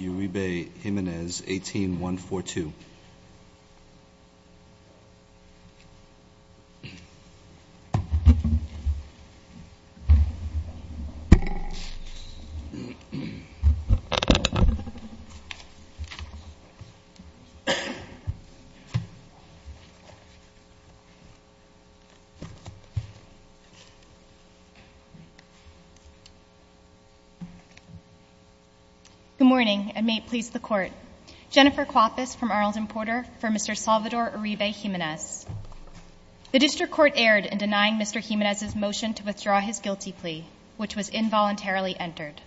Uribe Jimenez, 18-142. Good morning, and may it please the Court. Jennifer Coapas from Arnold and Porter for Mr. Salvador Uribe Jimenez. The district court erred in denying Mr. Jimenez's motion to withdraw his guilty plea, which was involuntarily entered.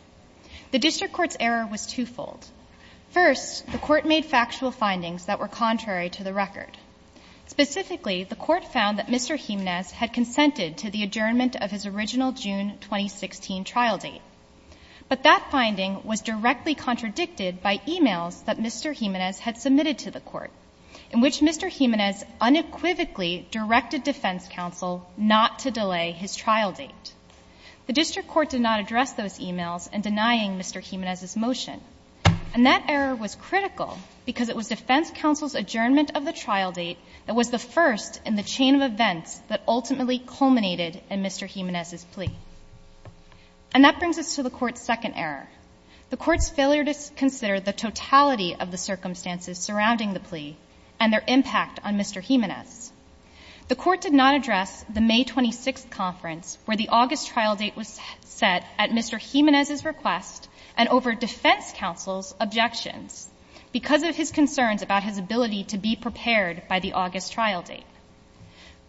The district court's error was twofold. First, the court made factual findings that were contrary to the record. Specifically, the court found that Mr. Jimenez had consented to the adjournment of his original June 2016 trial date. But that finding was directly contradicted by e-mails that Mr. Jimenez had submitted to the court, in which Mr. Jimenez unequivocally directed defense counsel not to delay his trial date. The district court did not address those e-mails in denying Mr. Jimenez's motion. And that error was critical because it was defense counsel's adjournment of the trial date that was the first in the chain of events that ultimately culminated in Mr. Jimenez's plea. And that brings us to the Court's second error, the Court's failure to consider the totality of the circumstances surrounding the plea and their impact on Mr. Jimenez. The Court did not address the May 26th conference where the August trial date was set at Mr. Jimenez's request and over defense counsel's objections because of his concerns about his ability to be prepared by the August trial date.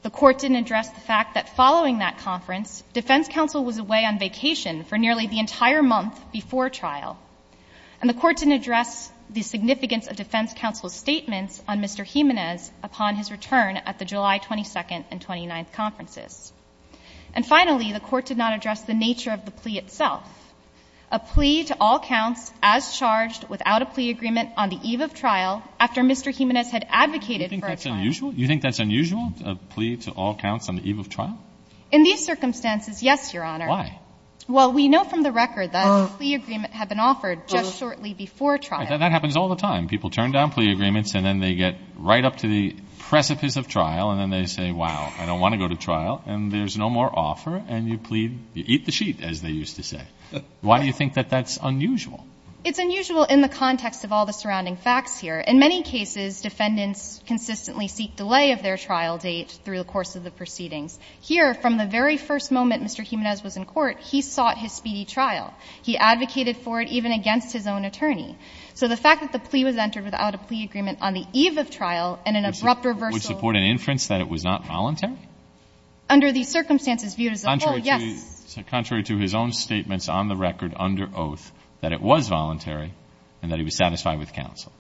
The Court didn't address the fact that following that conference, defense counsel was away on vacation for nearly the entire month before trial. And the Court didn't address the significance of defense counsel's statements on Mr. Jimenez upon his return at the July 22nd and 29th conferences. And finally, the Court did not address the nature of the plea itself, a plea to all counts as charged without a plea agreement on the eve of trial after Mr. Jimenez had advocated for a trial. And it's unusual? You think that's unusual, a plea to all counts on the eve of trial? In these circumstances, yes, Your Honor. Why? Well, we know from the record that a plea agreement had been offered just shortly before trial. That happens all the time. People turn down plea agreements and then they get right up to the precipice of trial and then they say, wow, I don't want to go to trial and there's no more offer and you plead, you eat the sheet, as they used to say. Why do you think that that's unusual? It's unusual in the context of all the surrounding facts here. In many cases, defendants consistently seek delay of their trial date through the course of the proceedings. Here, from the very first moment Mr. Jimenez was in court, he sought his speedy trial. He advocated for it even against his own attorney. So the fact that the plea was entered without a plea agreement on the eve of trial and an abrupt reversal of the court's decision to do so would support an inference that it was not voluntary? Under the circumstances viewed as a whole, yes. Contrary to his own statements on the record under oath that it was voluntary and that he was satisfied with counsel.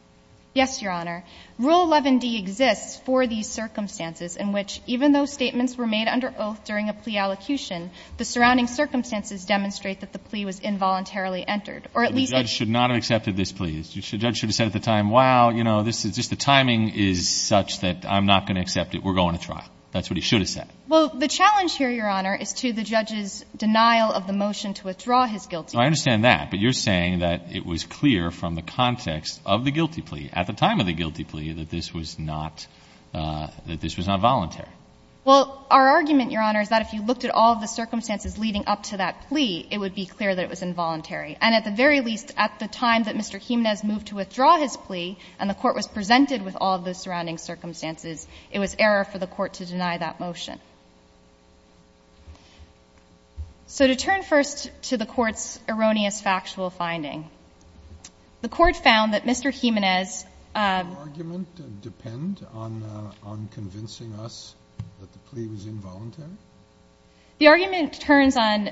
Yes, Your Honor. Rule 11d exists for these circumstances in which even though statements were made under oath during a plea allocution, the surrounding circumstances demonstrate that the plea was involuntarily entered. Or at least it should not have accepted this plea. The judge should have said at the time, wow, you know, this is just the timing is such that I'm not going to accept it, we're going to trial. That's what he should have said. Well, the challenge here, Your Honor, is to the judge's denial of the motion to withdraw his guilty plea. I understand that, but you're saying that it was clear from the context of the guilty plea, at the time of the guilty plea, that this was not, that this was not voluntary. Well, our argument, Your Honor, is that if you looked at all of the circumstances leading up to that plea, it would be clear that it was involuntary. And at the very least, at the time that Mr. Jimenez moved to withdraw his plea and the court was presented with all of the surrounding circumstances, it was error for the court to deny that motion. So to turn first to the court's erroneous factual finding, the court found that Mr. Jimenez ---- Does your argument depend on convincing us that the plea was involuntary? The argument turns on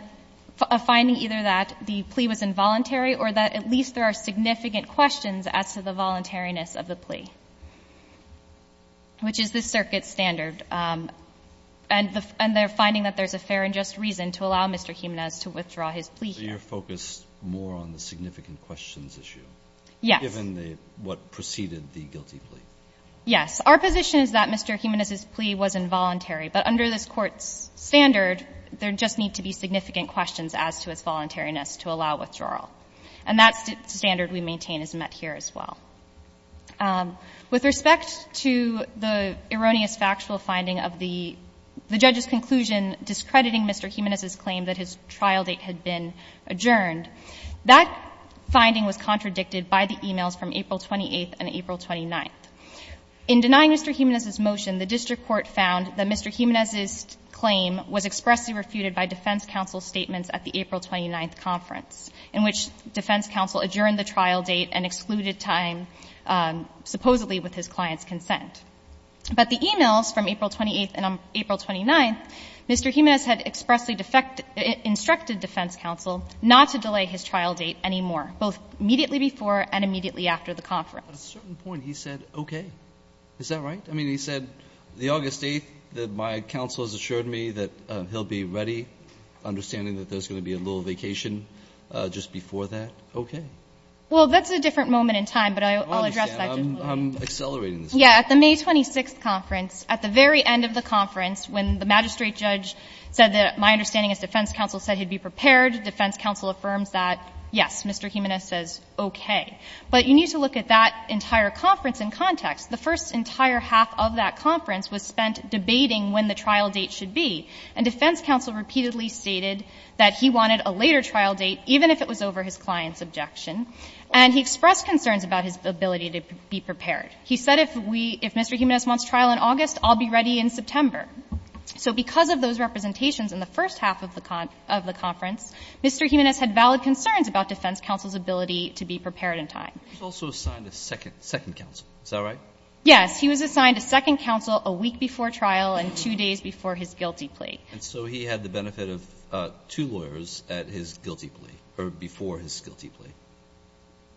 a finding either that the plea was involuntary or that at least there are significant questions as to the voluntariness of the plea, which is the circuit standard. And the finding that there's a fair and just reason to allow Mr. Jimenez to withdraw his plea here. So you're focused more on the significant questions issue? Yes. Given the what preceded the guilty plea? Yes. Our position is that Mr. Jimenez's plea was involuntary. But under this Court's standard, there just need to be significant questions as to his voluntariness to allow withdrawal. And that standard we maintain is met here as well. With respect to the erroneous factual finding of the judge's conclusion discrediting Mr. Jimenez's claim that his trial date had been adjourned, that finding was contradicted by the e-mails from April 28th and April 29th. In denying Mr. Jimenez's motion, the district court found that Mr. Jimenez's claim was expressly refuted by defense counsel's statements at the April 29th conference, in which defense counsel adjourned the trial date and excluded time, supposedly, with his client's consent. But the e-mails from April 28th and April 29th, Mr. Jimenez had expressly defect to the instructed defense counsel not to delay his trial date anymore, both immediately before and immediately after the conference. But at a certain point, he said, okay, is that right? I mean, he said, the August 8th, that my counsel has assured me that he'll be ready, understanding that there's going to be a little vacation just before that, okay. Well, that's a different moment in time, but I'll address that just a little bit. I'm accelerating this. Yeah. At the May 26th conference, at the very end of the conference, when the magistrate judge said that, my understanding is, defense counsel said he'd be prepared, defense counsel affirms that, yes, Mr. Jimenez says okay. But you need to look at that entire conference in context. The first entire half of that conference was spent debating when the trial date should be. And defense counsel repeatedly stated that he wanted a later trial date, even if it was over his client's objection. And he expressed concerns about his ability to be prepared. He said, if we, if Mr. Jimenez wants trial in August, I'll be ready in September. So because of those representations in the first half of the conference, Mr. Jimenez had valid concerns about defense counsel's ability to be prepared in time. He was also assigned a second counsel, is that right? Yes. He was assigned a second counsel a week before trial and two days before his guilty plea. And so he had the benefit of two lawyers at his guilty plea, or before his guilty plea?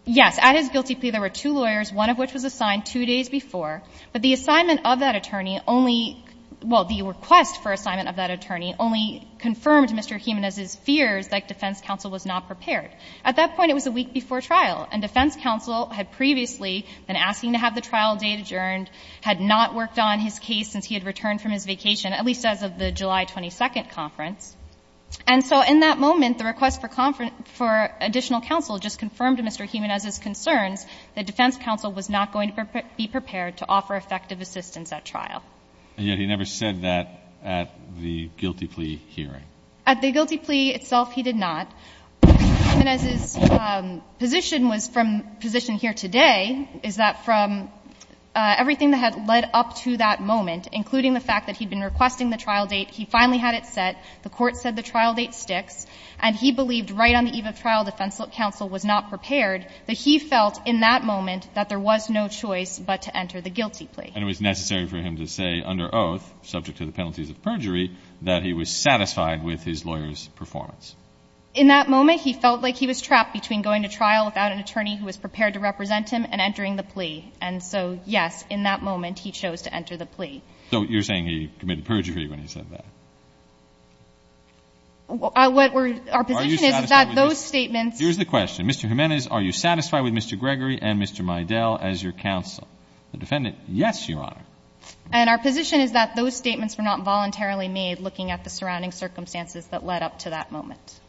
Yes. At his guilty plea, there were two lawyers, one of which was assigned two days before. But the assignment of that attorney only — well, the request for assignment of that attorney only confirmed Mr. Jimenez's fears that defense counsel was not prepared. At that point, it was a week before trial. And defense counsel had previously been asking to have the trial date adjourned, had not worked on his case since he had returned from his vacation, at least as of the July 22nd conference. And so in that moment, the request for additional counsel just confirmed Mr. Jimenez's concerns that defense counsel was not going to be prepared to offer effective assistance at trial. And yet he never said that at the guilty plea hearing. At the guilty plea itself, he did not. Mr. Jimenez's position was from the position here today, is that from everything that had led up to that moment, including the fact that he'd been requesting the trial date, he finally had it set, the Court said the trial date sticks, and he believed right on the eve of trial defense counsel was not prepared, that he felt in that moment that there was no choice but to enter the guilty plea. And it was necessary for him to say under oath, subject to the penalties of perjury, that he was satisfied with his lawyer's performance. In that moment, he felt like he was trapped between going to trial without an attorney who was prepared to represent him and entering the plea. And so, yes, in that moment, he chose to enter the plea. So you're saying he committed perjury when he said that? What we're – our position is that those statements – Here's the question. Mr. Jimenez, are you satisfied with Mr. Gregory and Mr. Meydel as your counsel? The defendant, yes, Your Honor. And our position is that those statements were not voluntarily made looking at the surrounding circumstances that led up to that moment.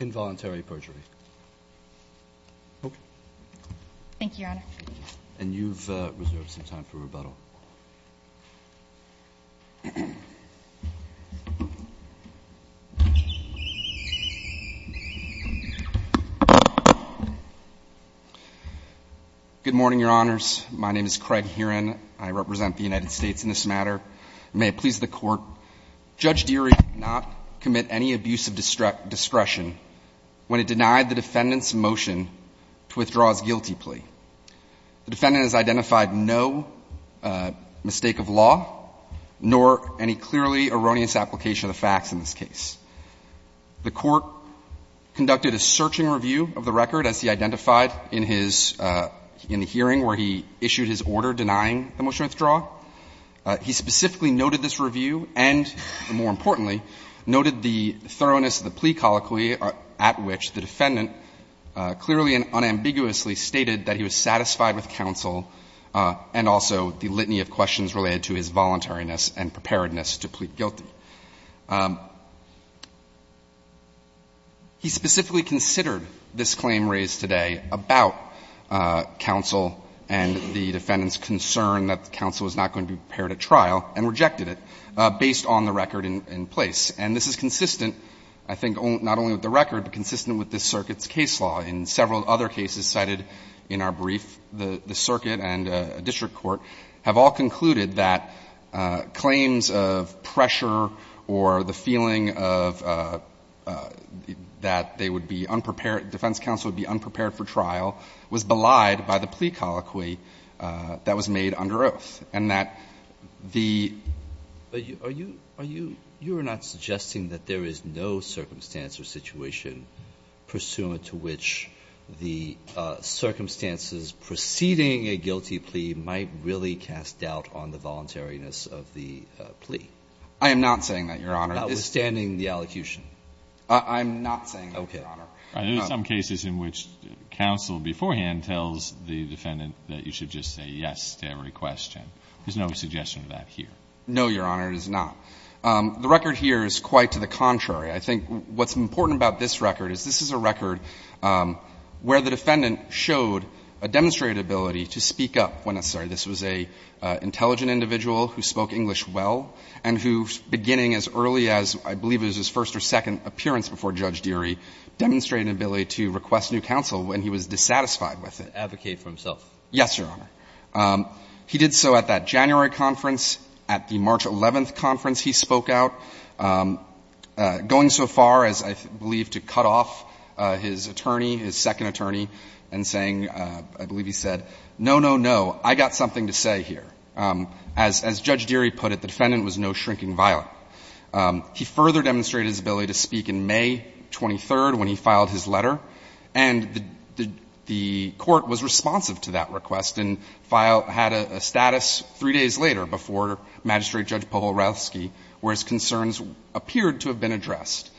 Involuntary perjury. Okay. Thank you, Your Honor. And you've reserved some time for rebuttal. Good morning, Your Honors. My name is Craig Heron. I represent the United States in this matter. And may it please the Court, Judge Deery did not commit any abuse of discretion when it denied the defendant's motion to withdraw his guilty plea. The defendant has identified no mistake of law, nor any clearly erroneous application of the facts in this case. The Court conducted a searching review of the record, as he identified in his – in the hearing where he issued his order denying the motion to withdraw. He specifically noted this review and, more importantly, noted the thoroughness of the plea colloquy at which the defendant clearly and unambiguously stated that he was satisfied with counsel and also the litany of questions related to his voluntariness and preparedness to plead guilty. He specifically considered this claim raised today about counsel and the defendant's concern that counsel was not going to be prepared at trial and rejected it, based on the record in place. And this is consistent, I think, not only with the record, but consistent with this circuit's case law. In several other cases cited in our brief, the circuit and district court have all concluded that claims of pressure or the feeling of – that they would be unprepared, defense counsel would be unprepared for trial, was belied by the plea colloquy that was made under oath, and that the – Alito, are you – are you – you are not suggesting that there is no circumstance or situation pursuant to which the circumstances preceding a guilty plea might really cast doubt on the voluntariness of the plea? I am not saying that, Your Honor. Notwithstanding the allocution. I'm not saying that, Your Honor. Okay. There are some cases in which counsel beforehand tells the defendant that you should just say yes to every question. There's no suggestion of that here. No, Your Honor, there's not. The record here is quite to the contrary. I think what's important about this record is this is a record where the defendant showed a demonstrated ability to speak up when necessary. This was an intelligent individual who spoke English well and who, beginning as early as I believe it was his first or second appearance before Judge Deery, demonstrated an ability to request new counsel when he was dissatisfied with it. Advocate for himself. Yes, Your Honor. He did so at that January conference. At the March 11th conference, he spoke out, going so far as I believe to cut off his attorney, his second attorney, and saying, I believe he said, no, no, no, I got something to say here. As Judge Deery put it, the defendant was no shrinking violet. He further demonstrated his ability to speak in May 23rd when he filed his letter, and the court was responsive to that request and had a status three days later before Magistrate Judge Polorowski where his concerns appeared to have been addressed.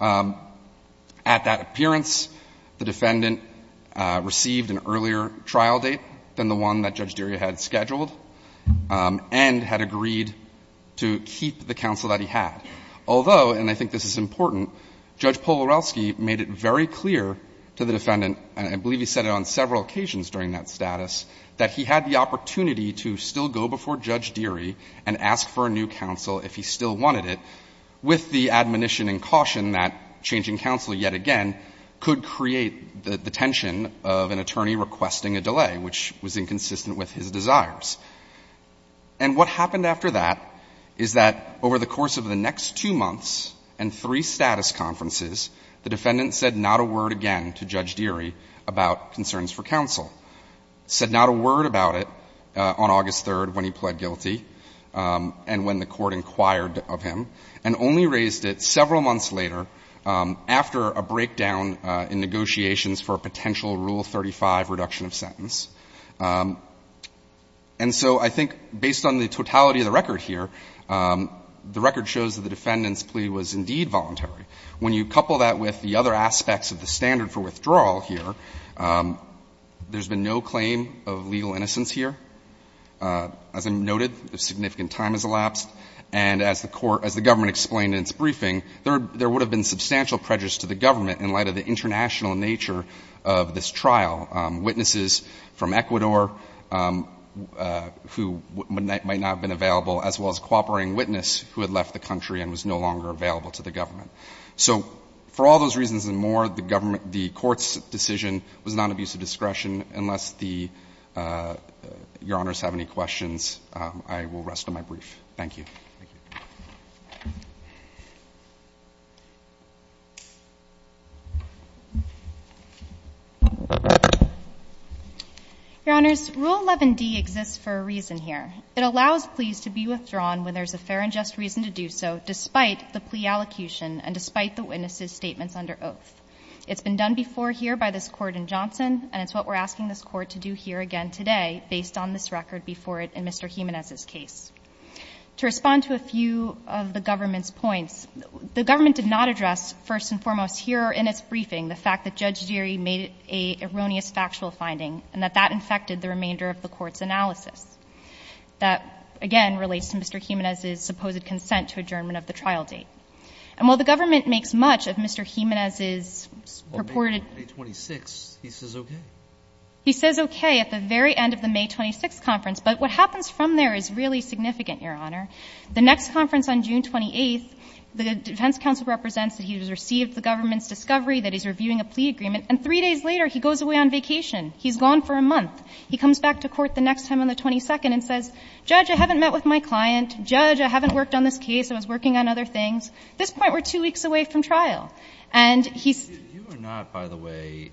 At that appearance, the defendant received an earlier trial date than the one that Judge Deery had scheduled and had agreed to keep the counsel that he had. Although, and I think this is important, Judge Polorowski made it very clear that he had the opportunity to still go before Judge Deery and ask for a new counsel if he still wanted it with the admonition and caution that changing counsel yet again could create the tension of an attorney requesting a delay, which was inconsistent with his desires. And what happened after that is that over the course of the next two months and three status conferences, the defendant said not a word again to Judge Deery about concerns for counsel, said not a word about it on August 3rd when he pled guilty and when the court inquired of him, and only raised it several months later after a breakdown in negotiations for a potential Rule 35 reduction of sentence. And so I think based on the totality of the record here, the record shows that the When you couple that with the other aspects of the standard for withdrawal here, there's been no claim of legal innocence here. As I noted, a significant time has elapsed, and as the court, as the government explained in its briefing, there would have been substantial prejudice to the government in light of the international nature of this trial. Witnesses from Ecuador who might not have been available, as well as a cooperating witness who had left the country and was no longer available to the government. So for all those reasons and more, the government, the court's decision was non-abusive discretion. Unless the, your honors have any questions, I will rest on my brief. Thank you. Your honors, Rule 11d exists for a reason here. It allows pleas to be withdrawn when there's a fair and just reason to do so, despite the plea allocution and despite the witness's statements under oath. It's been done before here by this Court in Johnson, and it's what we're asking this Court to do here again today, based on this record before it in Mr. Jimenez's case. To respond to a few of the government's points, the government did not address, first and foremost, here in its briefing, the fact that Judge Geary made an erroneous factual finding and that that infected the remainder of the Court's analysis. That, again, relates to Mr. Jimenez's supposed consent to adjournment of the trial date. And while the government makes much of Mr. Jimenez's purported ---- Well, May 26th, he says okay. He says okay at the very end of the May 26th conference. But what happens from there is really significant, Your Honor. The next conference on June 28th, the defense counsel represents that he has received the government's discovery that he's reviewing a plea agreement, and three days later, he goes away on vacation. He's gone for a month. He comes back to court the next time on the 22nd and says, Judge, I haven't met with my client. Judge, I haven't worked on this case. I was working on other things. At this point, we're two weeks away from trial. And he's ---- You are not, by the way,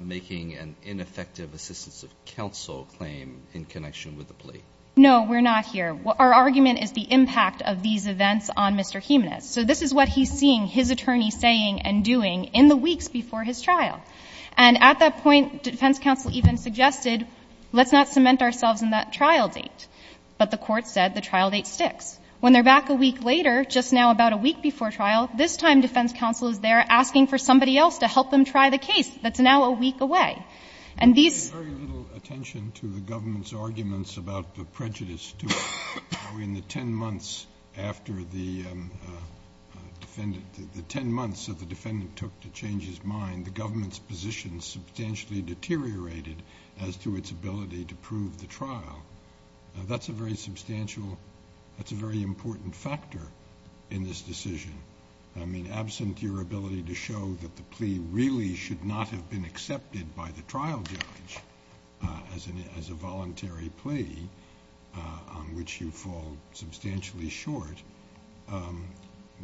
making an ineffective assistance of counsel claim in connection with the plea. No, we're not here. Our argument is the impact of these events on Mr. Jimenez. So this is what he's seeing his attorney saying and doing in the weeks before his trial. And at that point, defense counsel even suggested, let's not cement ourselves in that trial date. But the Court said the trial date sticks. When they're back a week later, just now about a week before trial, this time defense counsel is there asking for somebody else to help them try the case that's now a week away. And these ---- We pay very little attention to the government's arguments about the prejudice to it. In the 10 months after the defendant ---- the 10 months that the defendant took to change his mind, the government's position substantially deteriorated as to its ability to prove the trial. That's a very substantial ---- that's a very important factor in this decision. I mean, absent your ability to show that the plea really should not have been accepted by the trial judge as a voluntary plea on which you fall substantially short,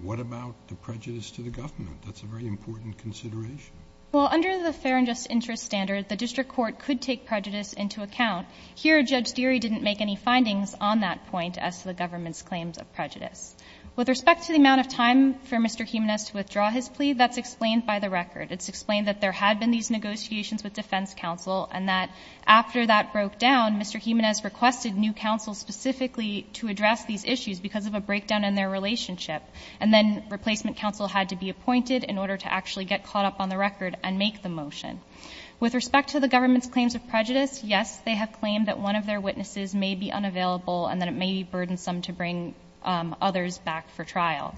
what about the prejudice to the government? That's a very important consideration. Well, under the fair and just interest standard, the district court could take prejudice into account. Here, Judge Deery didn't make any findings on that point as to the government's claims of prejudice. With respect to the amount of time for Mr. Jimenez to withdraw his plea, that's explained by the record. It's explained that there had been these negotiations with defense counsel and that after that broke down, Mr. Jimenez requested new counsel specifically to address these issues because of a breakdown in their relationship. And then replacement counsel had to be appointed in order to actually get caught up on the record and make the motion. With respect to the government's claims of prejudice, yes, they have claimed that one of their witnesses may be unavailable and that it may be burdensome to bring others back for trial.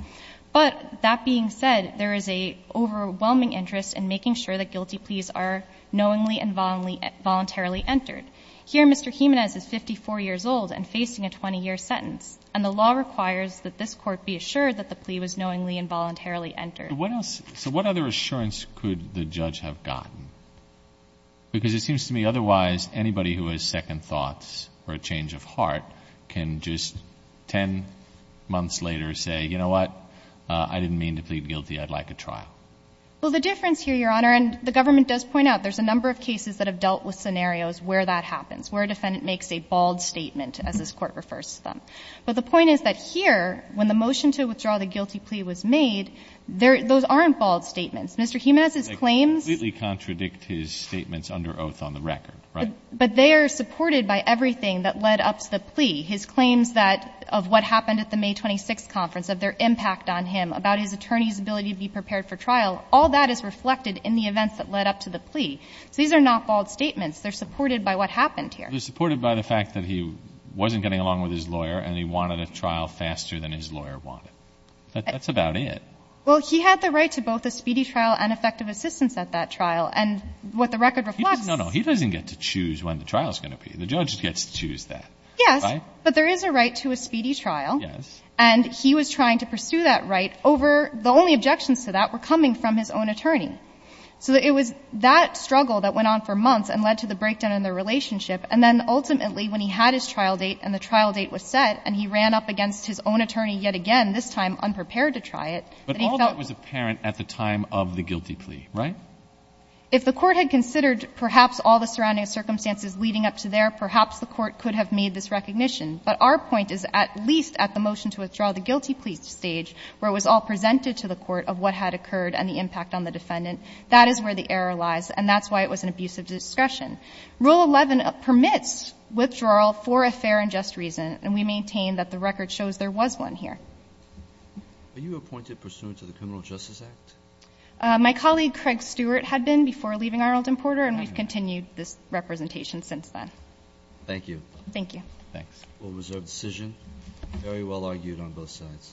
But that being said, there is an overwhelming interest in making sure that guilty pleas are knowingly and voluntarily entered. Here, Mr. Jimenez is 54 years old and facing a 20-year sentence, and the law requires that this court be assured that the plea was knowingly and voluntarily entered. But what else, so what other assurance could the judge have gotten? Because it seems to me otherwise anybody who has second thoughts or a change of heart can just 10 months later say, you know what? I didn't mean to plead guilty. I'd like a trial. Well, the difference here, Your Honor, and the government does point out there's a number of cases that have dealt with scenarios where that happens, where a defendant makes a bald statement as this court refers to them. But the point is that here, when the motion to withdraw the guilty plea was made, those aren't bald statements. Mr. Jimenez's claims — They completely contradict his statements under oath on the record, right? But they are supported by everything that led up to the plea. His claims that — of what happened at the May 26th conference, of their impact on him, about his attorney's ability to be prepared for trial, all that is reflected in the events that led up to the plea. So these are not bald statements. They're supported by what happened here. They're supported by the fact that he wasn't getting along with his lawyer and he wanted a trial faster than his lawyer wanted. That's about it. Well, he had the right to both a speedy trial and effective assistance at that trial. And what the record reflects — No, no. He doesn't get to choose when the trial is going to be. The judge gets to choose that. Yes. But there is a right to a speedy trial. Yes. And he was trying to pursue that right over — the only objections to that were coming from his own attorney. So it was that struggle that went on for months and led to the breakdown in their relationship. And then ultimately, when he had his trial date and the trial date was set, and he ran up against his own attorney yet again, this time unprepared to try it, that he felt — But all that was apparent at the time of the guilty plea, right? If the Court had considered perhaps all the surrounding circumstances leading up to there, perhaps the Court could have made this recognition. But our point is at least at the motion to withdraw the guilty plea stage, where it was all presented to the Court of what had occurred and the impact on the defendant, that is where the error lies, and that's why it was an abuse of discretion. Rule 11 permits withdrawal for a fair and just reason. And we maintain that the record shows there was one here. Are you appointed pursuant to the Criminal Justice Act? My colleague, Craig Stewart, had been before leaving Arnold and Porter, and we've continued this representation since then. Thank you. Thank you. Thanks. Rule reserved decision. Very well argued on both sides.